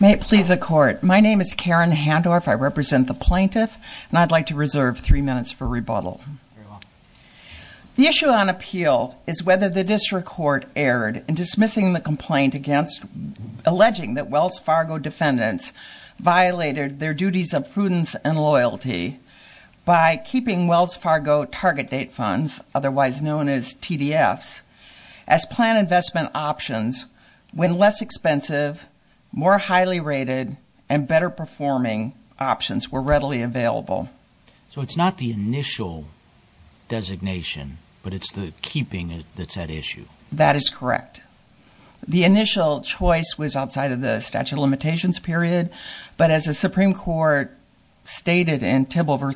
May it please the Court, my name is Karen Handorf, I represent the Plaintiff and I'd like to reserve three minutes for rebuttal. The issue on appeal is whether the District Court erred in dismissing the complaint alleging that Wells Fargo defendants violated their actions, otherwise known as TDFs, as plan investment options when less expensive, more highly rated, and better performing options were readily available. So it's not the initial designation, but it's the keeping that's at issue. That is correct. The initial choice was outside of the statute of limitations period, but as the Supreme Court stated in ongoing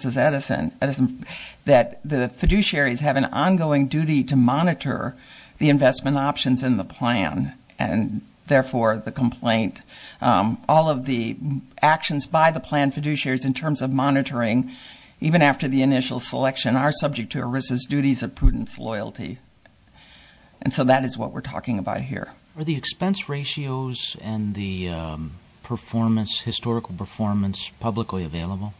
duty to monitor the investment options in the plan, and therefore the complaint. All of the actions by the plan fiduciaries in terms of monitoring, even after the initial selection, are subject to ERISA's duties of prudent loyalty. And so that is what we're talking about here. Are the expense ratios and the historical performance publicly available?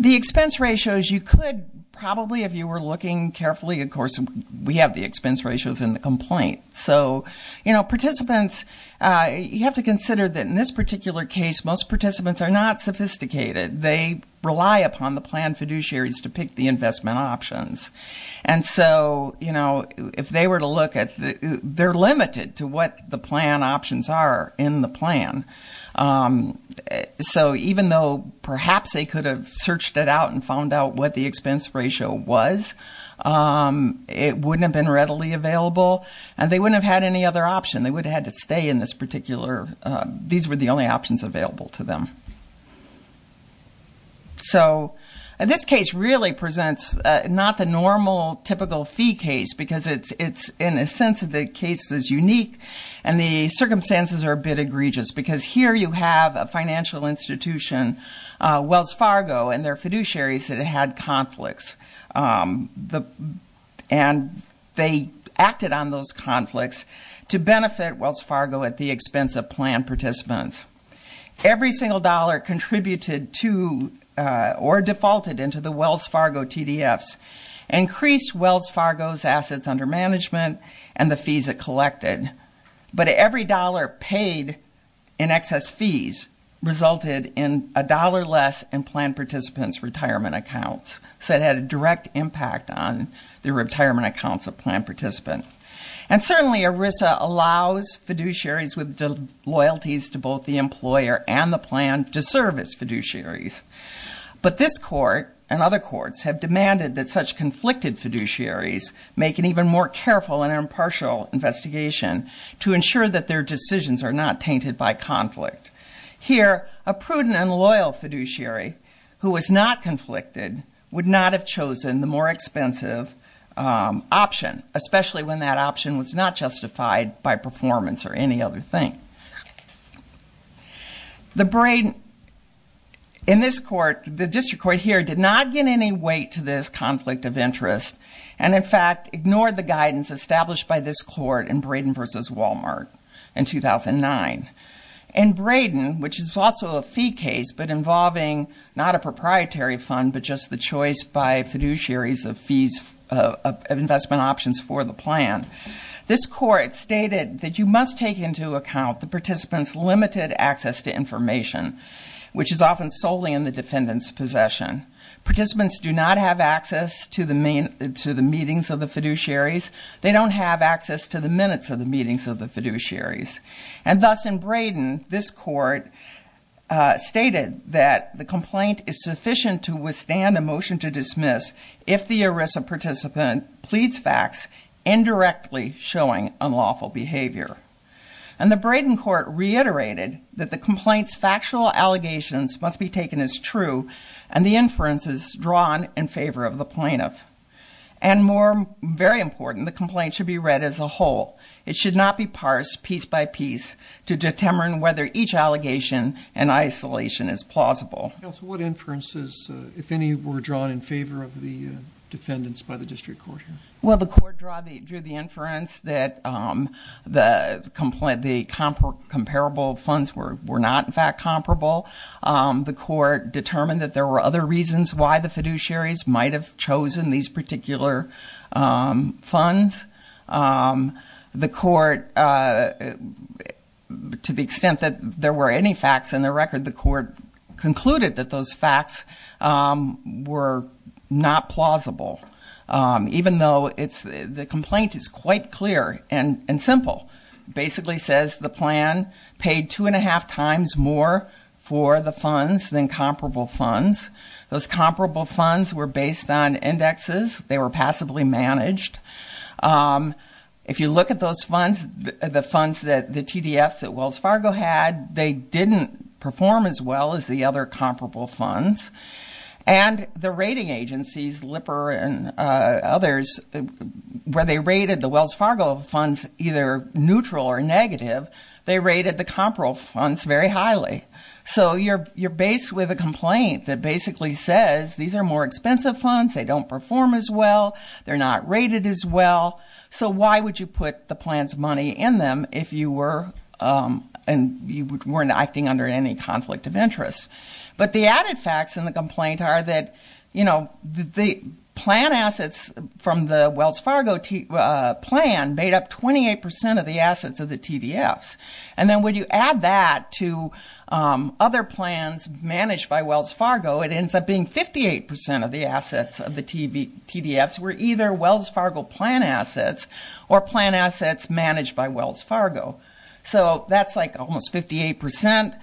The expense ratios you could probably, if you were looking carefully, of course, we have the expense ratios in the complaint. So, you know, participants, you have to consider that in this particular case, most participants are not sophisticated. They rely upon the plan fiduciaries to pick the investment options. And so, you know, if they were to look at, they're limited to what the plan options are in the plan. So even though perhaps they could have searched it out and found out what the expense ratio was, it wouldn't have been readily available, and they wouldn't have had any other option. They would have had to stay in this particular, these were the only options available to them. So this case really presents not the normal typical fee case because it's, in a sense, the case is unique and the circumstances are a bit egregious because here you have a financial institution, Wells Fargo, and their fiduciaries that had conflicts. And they acted on those conflicts to benefit Wells Fargo at the expense of plan participants. Every single dollar contributed to or defaulted into the Wells Fargo's assets under management and the fees it collected. But every dollar paid in excess fees resulted in a dollar less in plan participants' retirement accounts. So it had a direct impact on the retirement accounts of plan participants. And certainly ERISA allows fiduciaries with the loyalties to both the employer and the plan to serve as fiduciaries. But this court and other courts have demanded that such conflicted fiduciaries make an even more careful and impartial investigation to ensure that their decisions are not tainted by conflict. Here, a prudent and loyal fiduciary who was not conflicted would not have chosen the more expensive option, especially when that option was not justified by performance or any other thing. In this court, the district court here did not get any weight to this conflict of interest and in fact ignored the guidance established by this court in Braden v. Wal-Mart in 2009. In Braden, which is also a fee case but involving not a proprietary fund but just the choice by fiduciaries of fees of investment options for the plan, this court stated that you must take into account the participant's limited access to information, which is often solely in the defendant's possession. Participants do not have access to the meetings of the fiduciaries. They don't have access to the minutes of the meetings of the fiduciaries. And thus in Braden, this court stated that the complaint is sufficient to withstand a And the Braden court reiterated that the complaint's factual allegations must be taken as true and the inference is drawn in favor of the plaintiff. And more very important, the complaint should be read as a whole. It should not be parsed piece by piece to determine whether each allegation in isolation is plausible. Counsel, what inferences, if any, were drawn in favor of the defendants by the district court? Well, the court drew the inference that the comparable funds were not, in fact, comparable. The court determined that there were other reasons why the fiduciaries might have chosen these particular funds. The court, to the extent that there were any facts in the record, the court concluded that those facts were not plausible. Even though it's, the complaint is quite clear and simple. Basically says the plan paid two and a half times more for the funds than comparable funds. Those comparable funds were based on indexes. They were passably managed. If you look at those funds, the funds that the TDFs at Wells Fargo had, they didn't perform as well as the other comparable funds. And the rating agencies, Lipper and others, where they rated the Wells Fargo funds either neutral or negative, they rated the comparable funds very highly. So you're based with a complaint that basically says these are more expensive funds. They don't perform as well. They're not rated as well. So why would you put the plan's money in them if you were, and you weren't acting under any conflict of interest? But the added facts in the complaint are that, you know, the plan assets from the Wells Fargo plan made up 28% of the assets of the TDFs. And then when you add that to other plans managed by Wells Fargo, it ends up being 58% of the assets of the TDFs were either Wells Fargo or plan assets managed by Wells Fargo. So that's like almost 58%.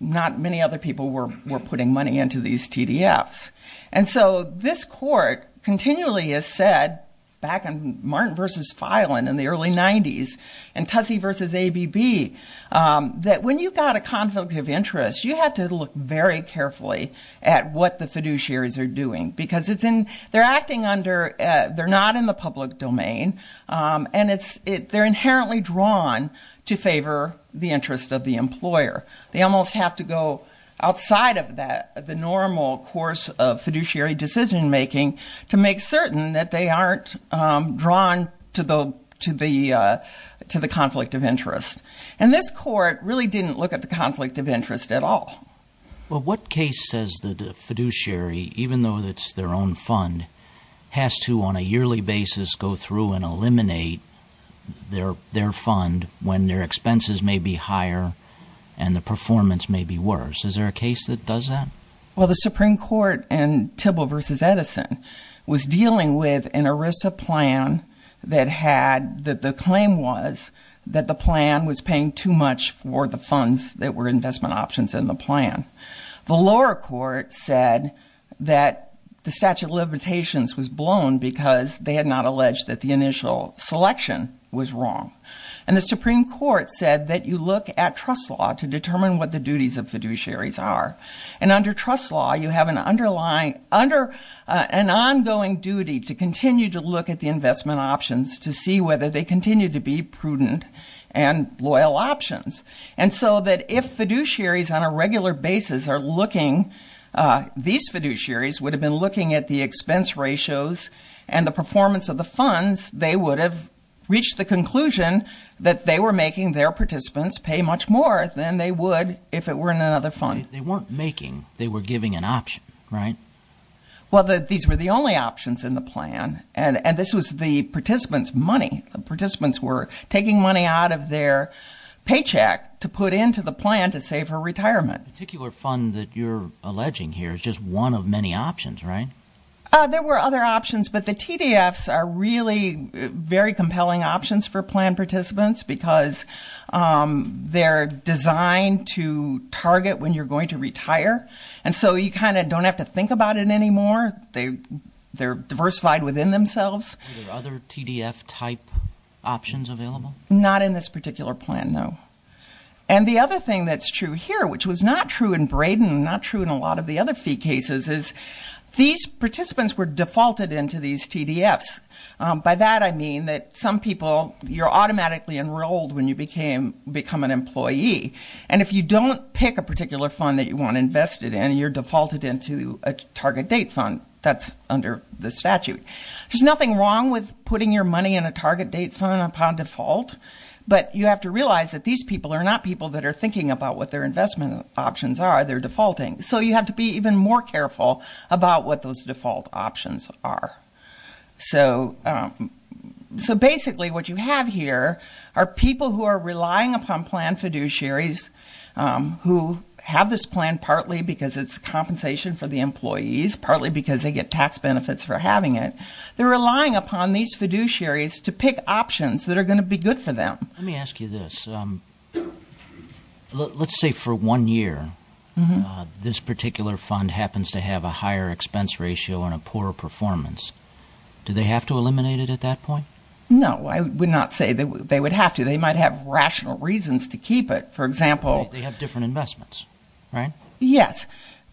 Not many other people were putting money into these TDFs. And so this court continually has said, back in Martin v. Filen in the early 90s, and Tussey v. ABB, that when you've got a conflict of interest, you have to look very carefully at what the fiduciaries are doing. Because they're acting under, they're not in the public domain. And it's, they're inherently drawn to favor the interest of the employer. They almost have to go outside of that, the normal course of fiduciary decision making, to make certain that they aren't drawn to the, to the, to the conflict of interest. And this court really didn't look at the conflict of interest at all. Well, what case says that a fiduciary, even though that's their own fund, has to, on a yearly basis, go through and eliminate their, their fund when their expenses may be higher, and the performance may be worse? Is there a case that does that? Well, the Supreme Court in Tibble v. Edison was dealing with an ERISA plan that had, that the claim was that the plan was paying too much for the funds that were investment options in the plan. The lower court said that the statute of limitations was blown because they had not alleged that the initial selection was wrong. And the Supreme Court said that you look at trust law to determine what the duties of fiduciaries are. And under trust law, you have an underlying, under an ongoing duty to continue to look at the investment options to see whether they continue to be prudent and loyal options. And so that if fiduciaries on a regular basis are looking, these fiduciaries would have been looking at the expense ratios and the performance of the funds, they would have reached the conclusion that they were making their participants pay much more than they would if it were in another fund. They weren't making, they were giving an option, right? Well, these were the only options in the plan. And this was the participants' money. The participants' money out of their paycheck to put into the plan to save her retirement. The particular fund that you're alleging here is just one of many options, right? There were other options, but the TDFs are really very compelling options for plan participants because they're designed to target when you're going to retire. And so you kind of don't have to think about it anymore. They, they're diversified within themselves. Are there other TDF type options available? Not in this particular plan, no. And the other thing that's true here, which was not true in Braden, not true in a lot of the other fee cases, is these participants were defaulted into these TDFs. By that, I mean that some people, you're automatically enrolled when you became, become an employee. And if you don't pick a particular fund that you want to invest it in, you're defaulted into a target date fund that's under the statute. There's nothing wrong with putting your money in a But you have to realize that these people are not people that are thinking about what their investment options are. They're defaulting. So you have to be even more careful about what those default options are. So, so basically what you have here are people who are relying upon plan fiduciaries who have this plan partly because it's compensation for the employees, partly because they get tax benefits for having it. They're relying upon these fiduciaries to pick options that are going to be good for them. Let me ask you this. Um, let's say for one year, this particular fund happens to have a higher expense ratio and a poorer performance. Do they have to eliminate it at that point? No, I would not say that they would have to, they might have rational reasons to keep it. For example, they have different investments, right? Yes.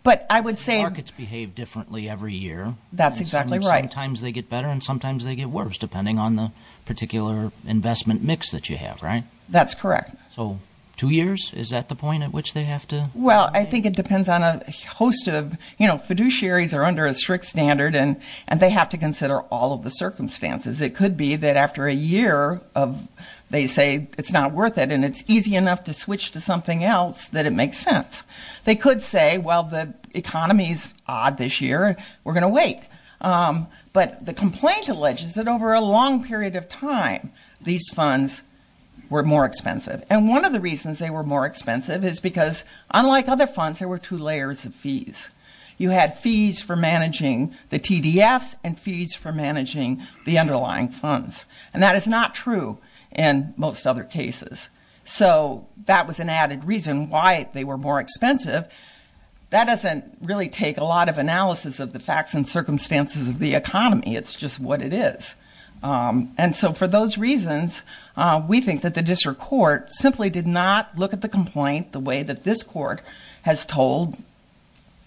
But I would say markets behave differently every year. That's exactly right. Times they get better and sometimes they get worse depending on the particular investment mix that you have, right? That's correct. So two years, is that the point at which they have to? Well, I think it depends on a host of, you know, fiduciaries are under a strict standard and, and they have to consider all of the circumstances. It could be that after a year of, they say it's not worth it and it's easy enough to switch to something else that it makes sense. They could say, well, the economy's odd this year, we're going to wait. Um, but the complaint alleges that over a long period of time, these funds were more expensive. And one of the reasons they were more expensive is because unlike other funds, there were two layers of fees. You had fees for managing the TDFs and fees for managing the underlying funds. And that is not true in most other cases. So that was an added reason why they were more expensive. That doesn't really take a lot of analysis of the facts and circumstances of the economy. It's just what it is. Um, and so for those reasons, uh, we think that the district court simply did not look at the complaint the way that this court has told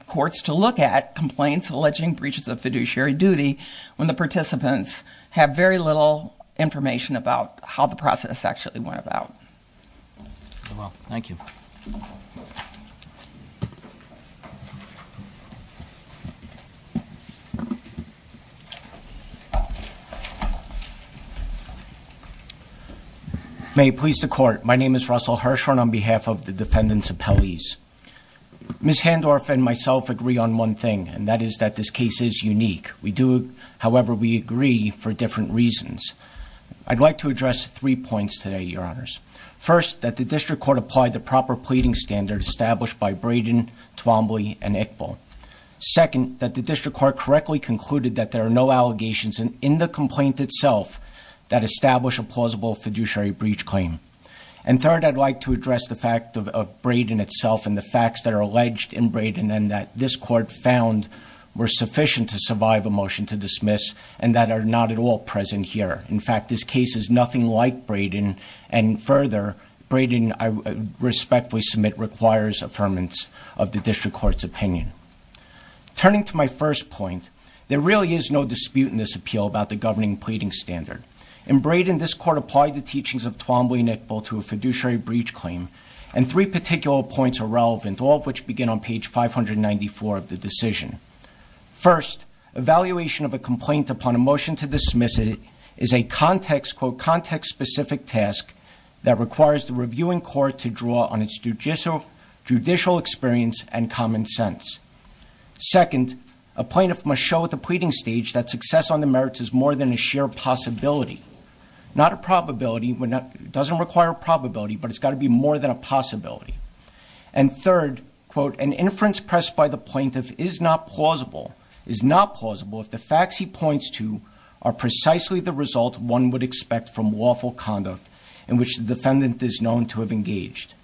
courts to look at complaints alleging breaches of fiduciary duty when the participants have very little information about how the process actually went about. Well, thank you. May it please the court. My name is Russell Hirschhorn on behalf of the defendant's appellees. Ms. Handorf and myself agree on one thing, and that is that this case is unique. We do, however, we agree for different reasons. I'd like to address three points today, your honors. First, that the district court applied the proper pleading standard established by Braden, Twombly and Iqbal. Second, that the district court correctly concluded that there are no allegations in the complaint itself that establish a plausible fiduciary breach claim. And third, I'd like to address the fact of Braden itself and the facts that are alleged in Braden and that this court found were sufficient to survive a motion to dismiss and that are not at all present here. In fact, this case is nothing like Braden and further Braden, I respectfully submit requires affirmance of the district court's opinion. Turning to my first point, there really is no dispute in this appeal about the governing pleading standard. In Braden, this court applied the teachings of Twombly and Iqbal to a fiduciary breach claim, and three particular points are relevant, all of which begin on page 594 of the decision. First, evaluation of a complaint upon a motion to dismiss it is a context, quote, context-specific task that requires the reviewing court to draw on its judicial experience and common sense. Second, a plaintiff must show at the pleading stage that success on the merits is more than a sheer possibility, not a probability, doesn't require a probability, but it's got to be more than a possibility. And third, quote, an inference pressed by the plaintiff is not plausible, is not plausible if the facts he points to are precisely the result one would expect from lawful conduct in which the defendant is known to have engaged.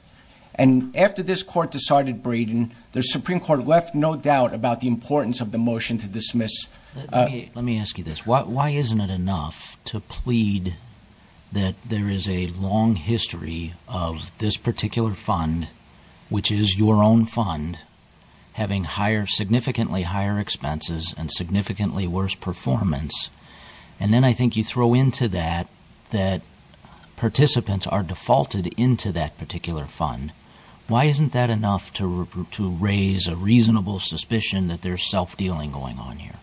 And after this court decided Braden, the Supreme Court left no doubt about the importance of the motion to dismiss. Let me ask you this. Why isn't it enough to plead that there is a long history of this particular fund, which is your own fund, having higher, significantly higher expenses and significantly worse performance, and then I think you throw into that that participants are defaulted into that particular fund. Why isn't that enough to raise a reasonable suspicion that there's self-dealing going on here?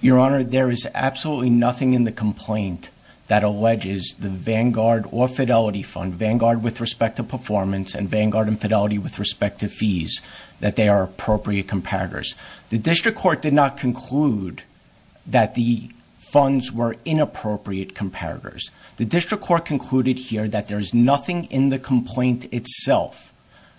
Your Honor, there is absolutely nothing in the complaint that alleges the Vanguard or Fidelity fund, Vanguard with respect to performance and Vanguard and Fidelity with respect to fees, that they are appropriate comparators. The district court did not conclude that the funds were inappropriate comparators. The district court concluded here that there is nothing in the complaint itself,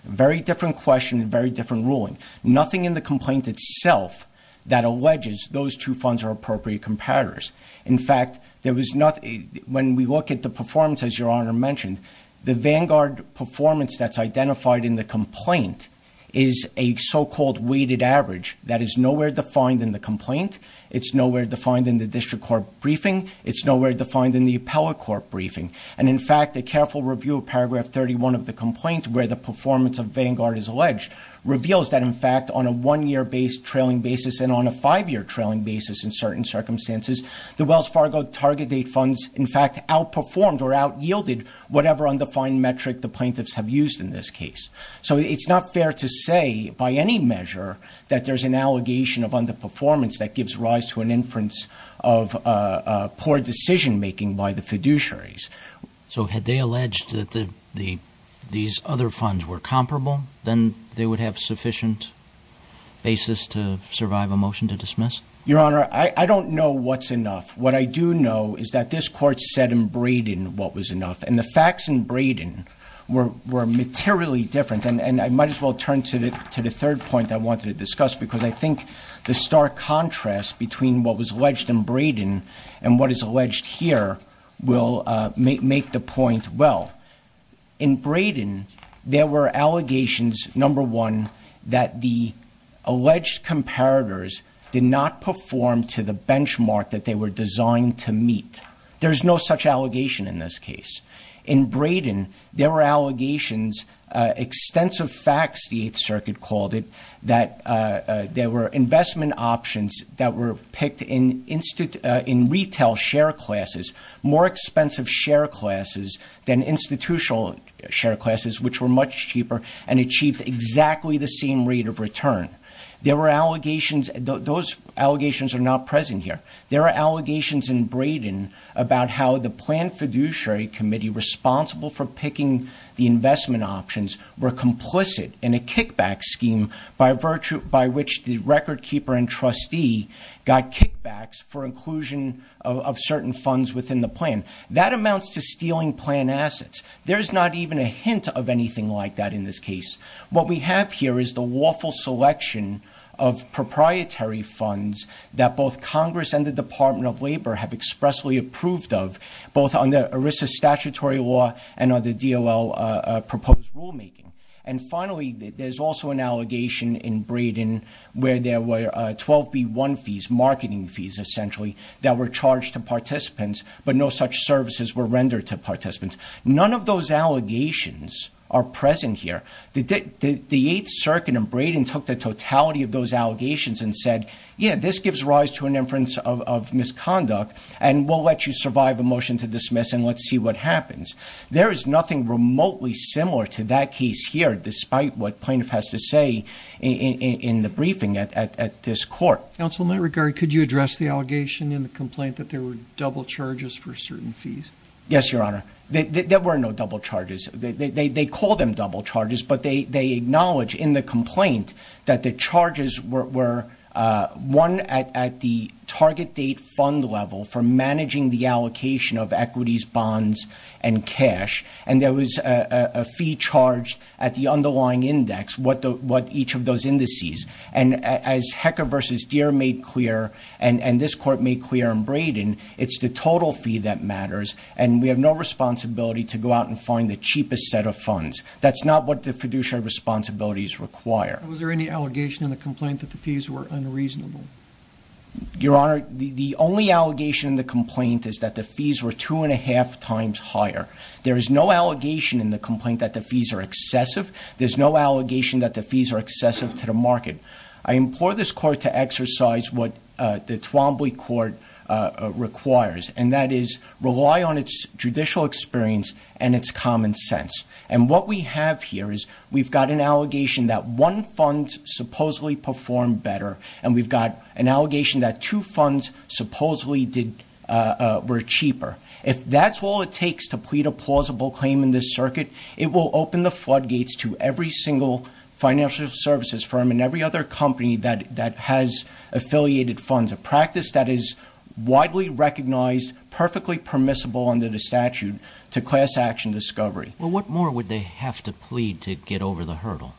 very different question, very different ruling, nothing in the complaint itself that alleges those two funds are appropriate comparators. In fact, when we look at the performance, as your Honor mentioned, the Vanguard performance that's identified in the complaint is a so-called weighted average that is nowhere defined in the complaint. It's nowhere defined in the district court briefing. It's nowhere defined in the appellate court briefing. And in fact, a careful review of paragraph 31 of the complaint where the on a one-year based trailing basis and on a five-year trailing basis in certain circumstances, the Wells Fargo target date funds, in fact, outperformed or outyielded whatever undefined metric the plaintiffs have used in this case. So it's not fair to say by any measure that there's an allegation of underperformance that gives rise to an inference of poor decision-making by the fiduciaries. So had they alleged that these other funds were comparable, then they would have sufficient basis to survive a motion to dismiss? Your Honor, I don't know what's enough. What I do know is that this court said in Braden what was enough. And the facts in Braden were materially different. And I might as well turn to the third point I wanted to discuss, because I think the stark contrast between what was alleged in Braden and what is alleged here will make the point well. In Braden, there were allegations, number one, that the alleged comparators did not perform to the benchmark that they were designed to meet. There's no such allegation in this case. In Braden, there were allegations, extensive facts, the Eighth Circuit called it, that there were investment options that were in retail share classes, more expensive share classes than institutional share classes, which were much cheaper and achieved exactly the same rate of return. There were allegations, those allegations are not present here. There are allegations in Braden about how the planned fiduciary committee responsible for picking the investment options were complicit in a trustee got kickbacks for inclusion of certain funds within the plan. That amounts to stealing plan assets. There's not even a hint of anything like that in this case. What we have here is the lawful selection of proprietary funds that both Congress and the Department of Labor have expressly approved of, both on the ERISA statutory law and on the DOL proposed rulemaking. And there were 12B1 fees, marketing fees, essentially, that were charged to participants, but no such services were rendered to participants. None of those allegations are present here. The Eighth Circuit in Braden took the totality of those allegations and said, yeah, this gives rise to an inference of misconduct, and we'll let you survive a motion to dismiss and let's see what happens. There is nothing remotely similar to that case here, despite what plaintiff has to say in the briefing at this court. Counsel, in that regard, could you address the allegation in the complaint that there were double charges for certain fees? Yes, Your Honor. There were no double charges. They call them double charges, but they acknowledge in the complaint that the charges were one at the target date fund level for managing the allocation of equities, the underlying index, each of those indices. And as Hecker v. Deere made clear, and this court made clear in Braden, it's the total fee that matters, and we have no responsibility to go out and find the cheapest set of funds. That's not what the fiduciary responsibilities require. Was there any allegation in the complaint that the fees were unreasonable? Your Honor, the only allegation in the complaint is that the fees were two and a half times higher. There is no allegation in the complaint that the fees are excessive. There's no allegation that the fees are excessive to the market. I implore this court to exercise what the Twombly Court requires, and that is rely on its judicial experience and its common sense. And what we have here is we've got an allegation that one fund supposedly performed better, and we've got an allegation that two funds supposedly were cheaper. If that's all it takes to plead a plausible claim in this circuit, it will open the floodgates to every single financial services firm and every other company that has affiliated funds, a practice that is widely recognized, perfectly permissible under the statute, to class action discovery. Well, what more would they have to plead to get over the hurdle?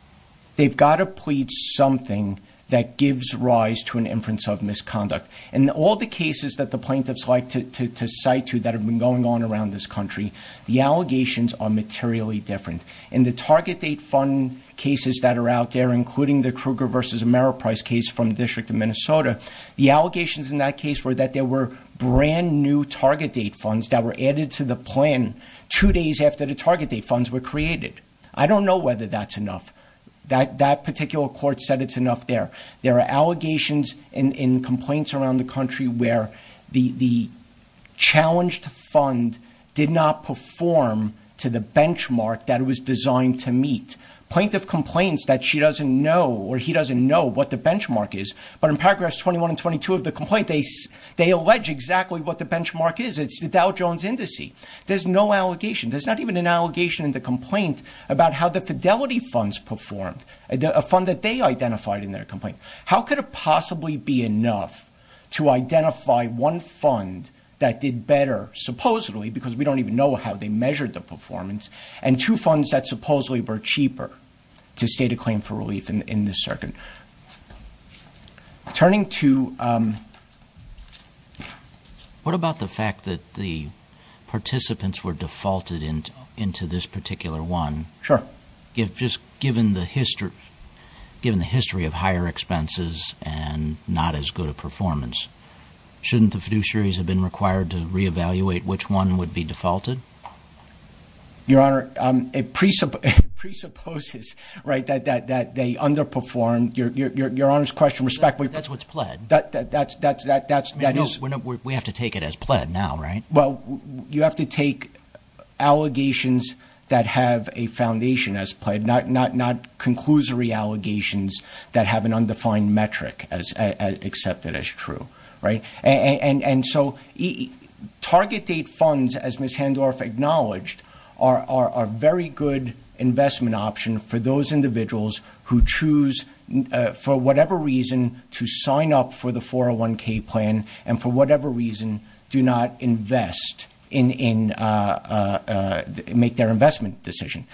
They've got to plead something that gives rise to an inference of misconduct. In all the cases that the plaintiffs like to cite to that have been going on around this country, the allegations are materially different. In the target date fund cases that are out there, including the Kruger v. Merrill Price case from the District of Minnesota, the allegations in that case were that there were brand new target date funds that were added to the plan two days after the target date funds were created. I don't know whether that's enough. That particular court said it's enough there. There are allegations in complaints around the country where the challenged fund did not perform to the benchmark that it was designed to meet. Plaintiff complains that she doesn't know or he doesn't know what the benchmark is, but in paragraphs 21 and 22 of the complaint, they allege exactly what the benchmark is. It's Dow Jones Index. There's no allegation. There's not even an allegation in the complaint about how the fidelity funds performed, a fund that they identified in their complaint. How could it possibly be enough to identify one fund that did better, supposedly, because we don't even know how they measured the performance, and two funds that supposedly were cheaper to state a claim for participants were defaulted into this particular one. Sure. Given the history of higher expenses and not as good a performance, shouldn't the fiduciaries have been required to re-evaluate which one would be defaulted? Your Honor, it presupposes that they underperformed. Your Honor, you have to take allegations that have a foundation as pled, not conclusory allegations that have an undefined metric accepted as true. Target date funds, as Ms. Handorf acknowledged, are a very good investment option for those individuals who choose, for whatever reason, to sign up for the 401k plan and, for whatever reason, do not make their investment decision.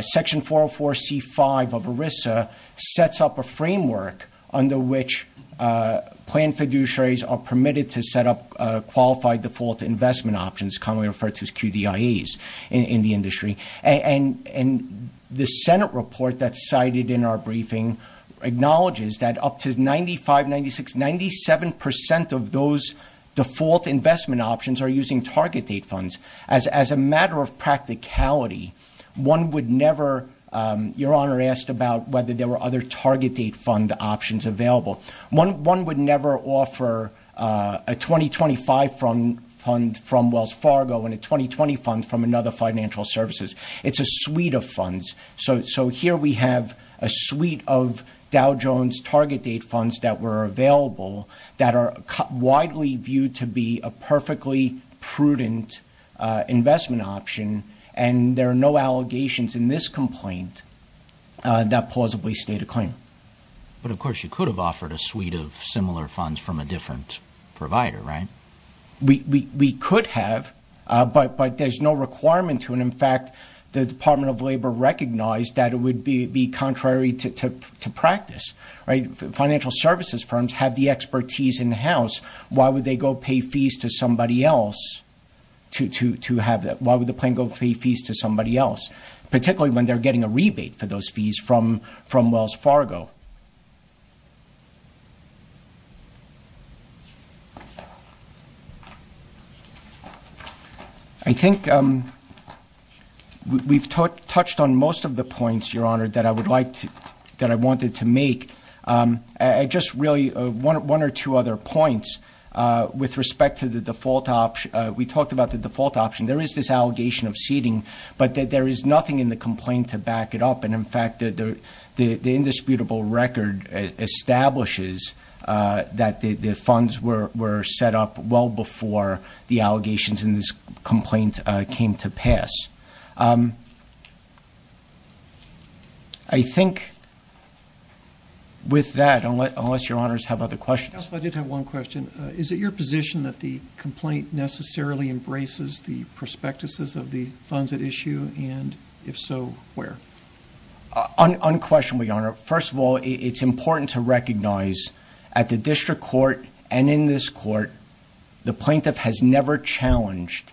Section 404c5 of ERISA sets up a framework under which plan fiduciaries are permitted to set up qualified default investment options, commonly referred to as QDIAs, in the industry. And the Senate report that's cited in our briefing acknowledges that up to 95%, 96%, 97% of those default investment options are using target date funds. As a matter of practicality, one would never, Your Honor asked about whether there were other target date fund options available. One would never offer a 2025 fund from Wells Fargo and a 2020 fund from another financial services. It's a suite of funds. So here we have a suite of Dow Jones target date funds that were available that are widely viewed to be a perfectly prudent investment option, and there are no allegations in this complaint that plausibly state a claim. But of course, you could have offered a suite of similar funds from a different provider, right? We could have, but there's no requirement to, and in fact, the Department of Labor recognized that it would be contrary to practice, right? Financial services firms have the expertise in-house. Why would they go pay fees to somebody else to have that? Why would the plan go pay fees to somebody else, particularly when they're getting a rebate for those fees from Wells Fargo? I think we've touched on most of the points, Your Honor, that I would like to, that I wanted to make. I just really, one or two other points with respect to the default option. We talked about the default option. There is this allegation of seeding, but that there is nothing in the complaint to back it up. And in fact, the indisputable record establishes that the default option was well before the allegations in this complaint came to pass. I think with that, unless Your Honors have other questions. Counsel, I did have one question. Is it your position that the complaint necessarily embraces the prospectuses of the funds at issue? And if so, where? Unquestionably, Your Honor. First of all, it's important to recognize at the district court and in this court, the plaintiff has never challenged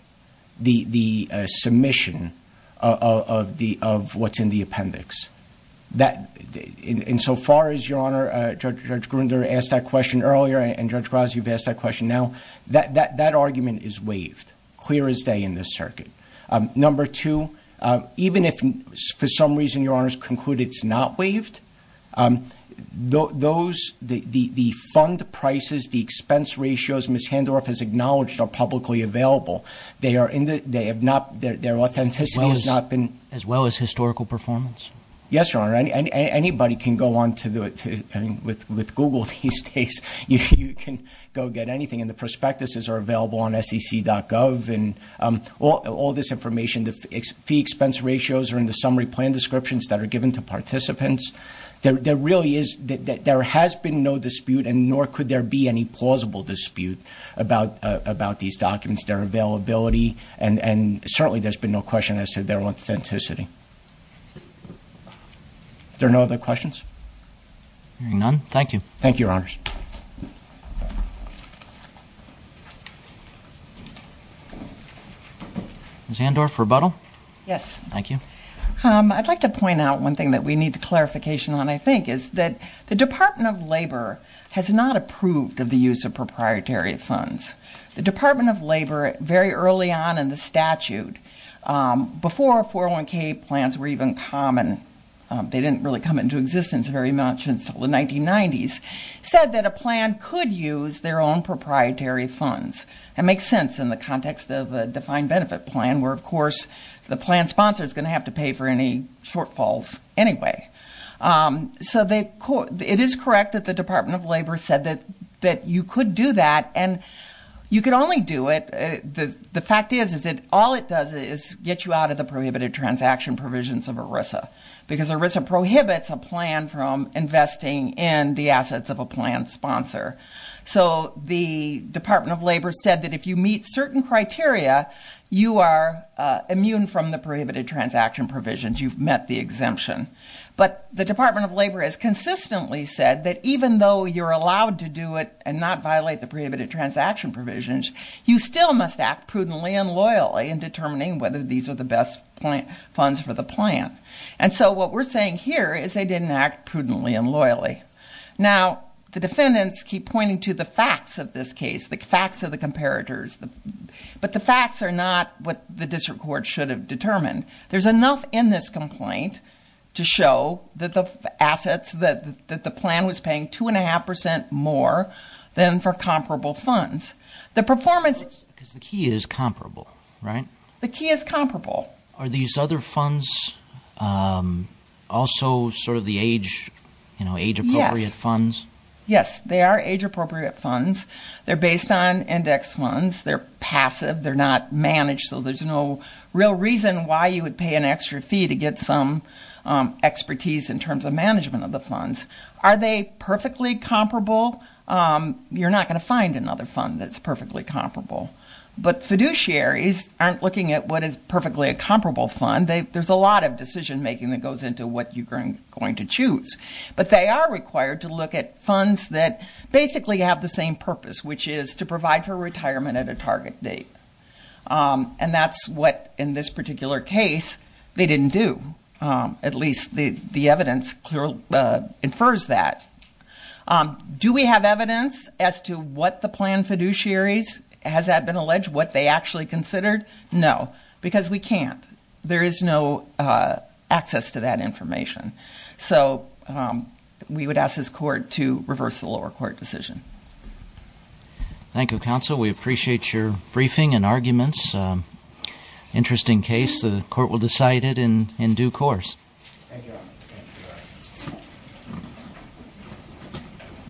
the submission of the, of what's in the appendix. That in so far as Your Honor, Judge Grunder asked that question earlier, and Judge Grazia, you've asked that question now, that, that, that argument is waived clear as day in this circuit. Number two, even if for some reason Your Honors conclude it's not waived, those, the fund prices, the expense ratios Ms. Handorf has acknowledged are publicly available. They are in the, they have not, their authenticity has not been. As well as historical performance? Yes, Your Honor. Anybody can go on to the, with Google these days, you can go get anything. And the prospectuses are available on sec.gov and all this information, the fee expense ratios are in summary plan descriptions that are given to participants. There really is, there has been no dispute and nor could there be any plausible dispute about these documents, their availability and certainly there's been no question as to their authenticity. There are no other questions? None. Thank you. Thank you, Your Honors. Ms. Handorf, rebuttal? Yes. Thank you. I'd like to point out one thing that we need clarification on, I think, is that the Department of Labor has not approved of the use of proprietary funds. The Department of Labor, very early on in the statute, before 401k plans were even common, they didn't really come into existence very much until the 1990s, said that a plan could use their own proprietary funds. It makes sense in the any shortfalls anyway. So it is correct that the Department of Labor said that you could do that, and you could only do it, the fact is, is that all it does is get you out of the prohibited transaction provisions of ERISA, because ERISA prohibits a plan from investing in the assets of a plan sponsor. So the Department of Labor said that if you meet certain criteria, you are immune from the prohibited transaction provisions, you've met the exemption. But the Department of Labor has consistently said that even though you're allowed to do it and not violate the prohibited transaction provisions, you still must act prudently and loyally in determining whether these are the best funds for the plan. And so what we're saying here is they didn't act prudently and loyally. Now, the defendants keep pointing to the facts of this case, the facts of the determined. There's enough in this complaint to show that the assets that the plan was paying two and a half percent more than for comparable funds. The performance... Because the key is comparable, right? The key is comparable. Are these other funds also sort of the age, you know, age-appropriate funds? Yes, they are age-appropriate funds. They're based on index funds. They're passive. They're managed so there's no real reason why you would pay an extra fee to get some expertise in terms of management of the funds. Are they perfectly comparable? You're not going to find another fund that's perfectly comparable. But fiduciaries aren't looking at what is perfectly a comparable fund. There's a lot of decision-making that goes into what you're going to choose. But they are required to look at funds that basically have the same purpose, which is to provide for retirement at a target date. And that's what, in this particular case, they didn't do. At least the evidence clearly infers that. Do we have evidence as to what the plan fiduciaries, has that been alleged, what they actually considered? No, because we can't. There is no access to that information. So we would ask this court to reverse the lower court decision. Thank you, counsel. We appreciate your briefing and arguments. Interesting case. The court will decide it in due course.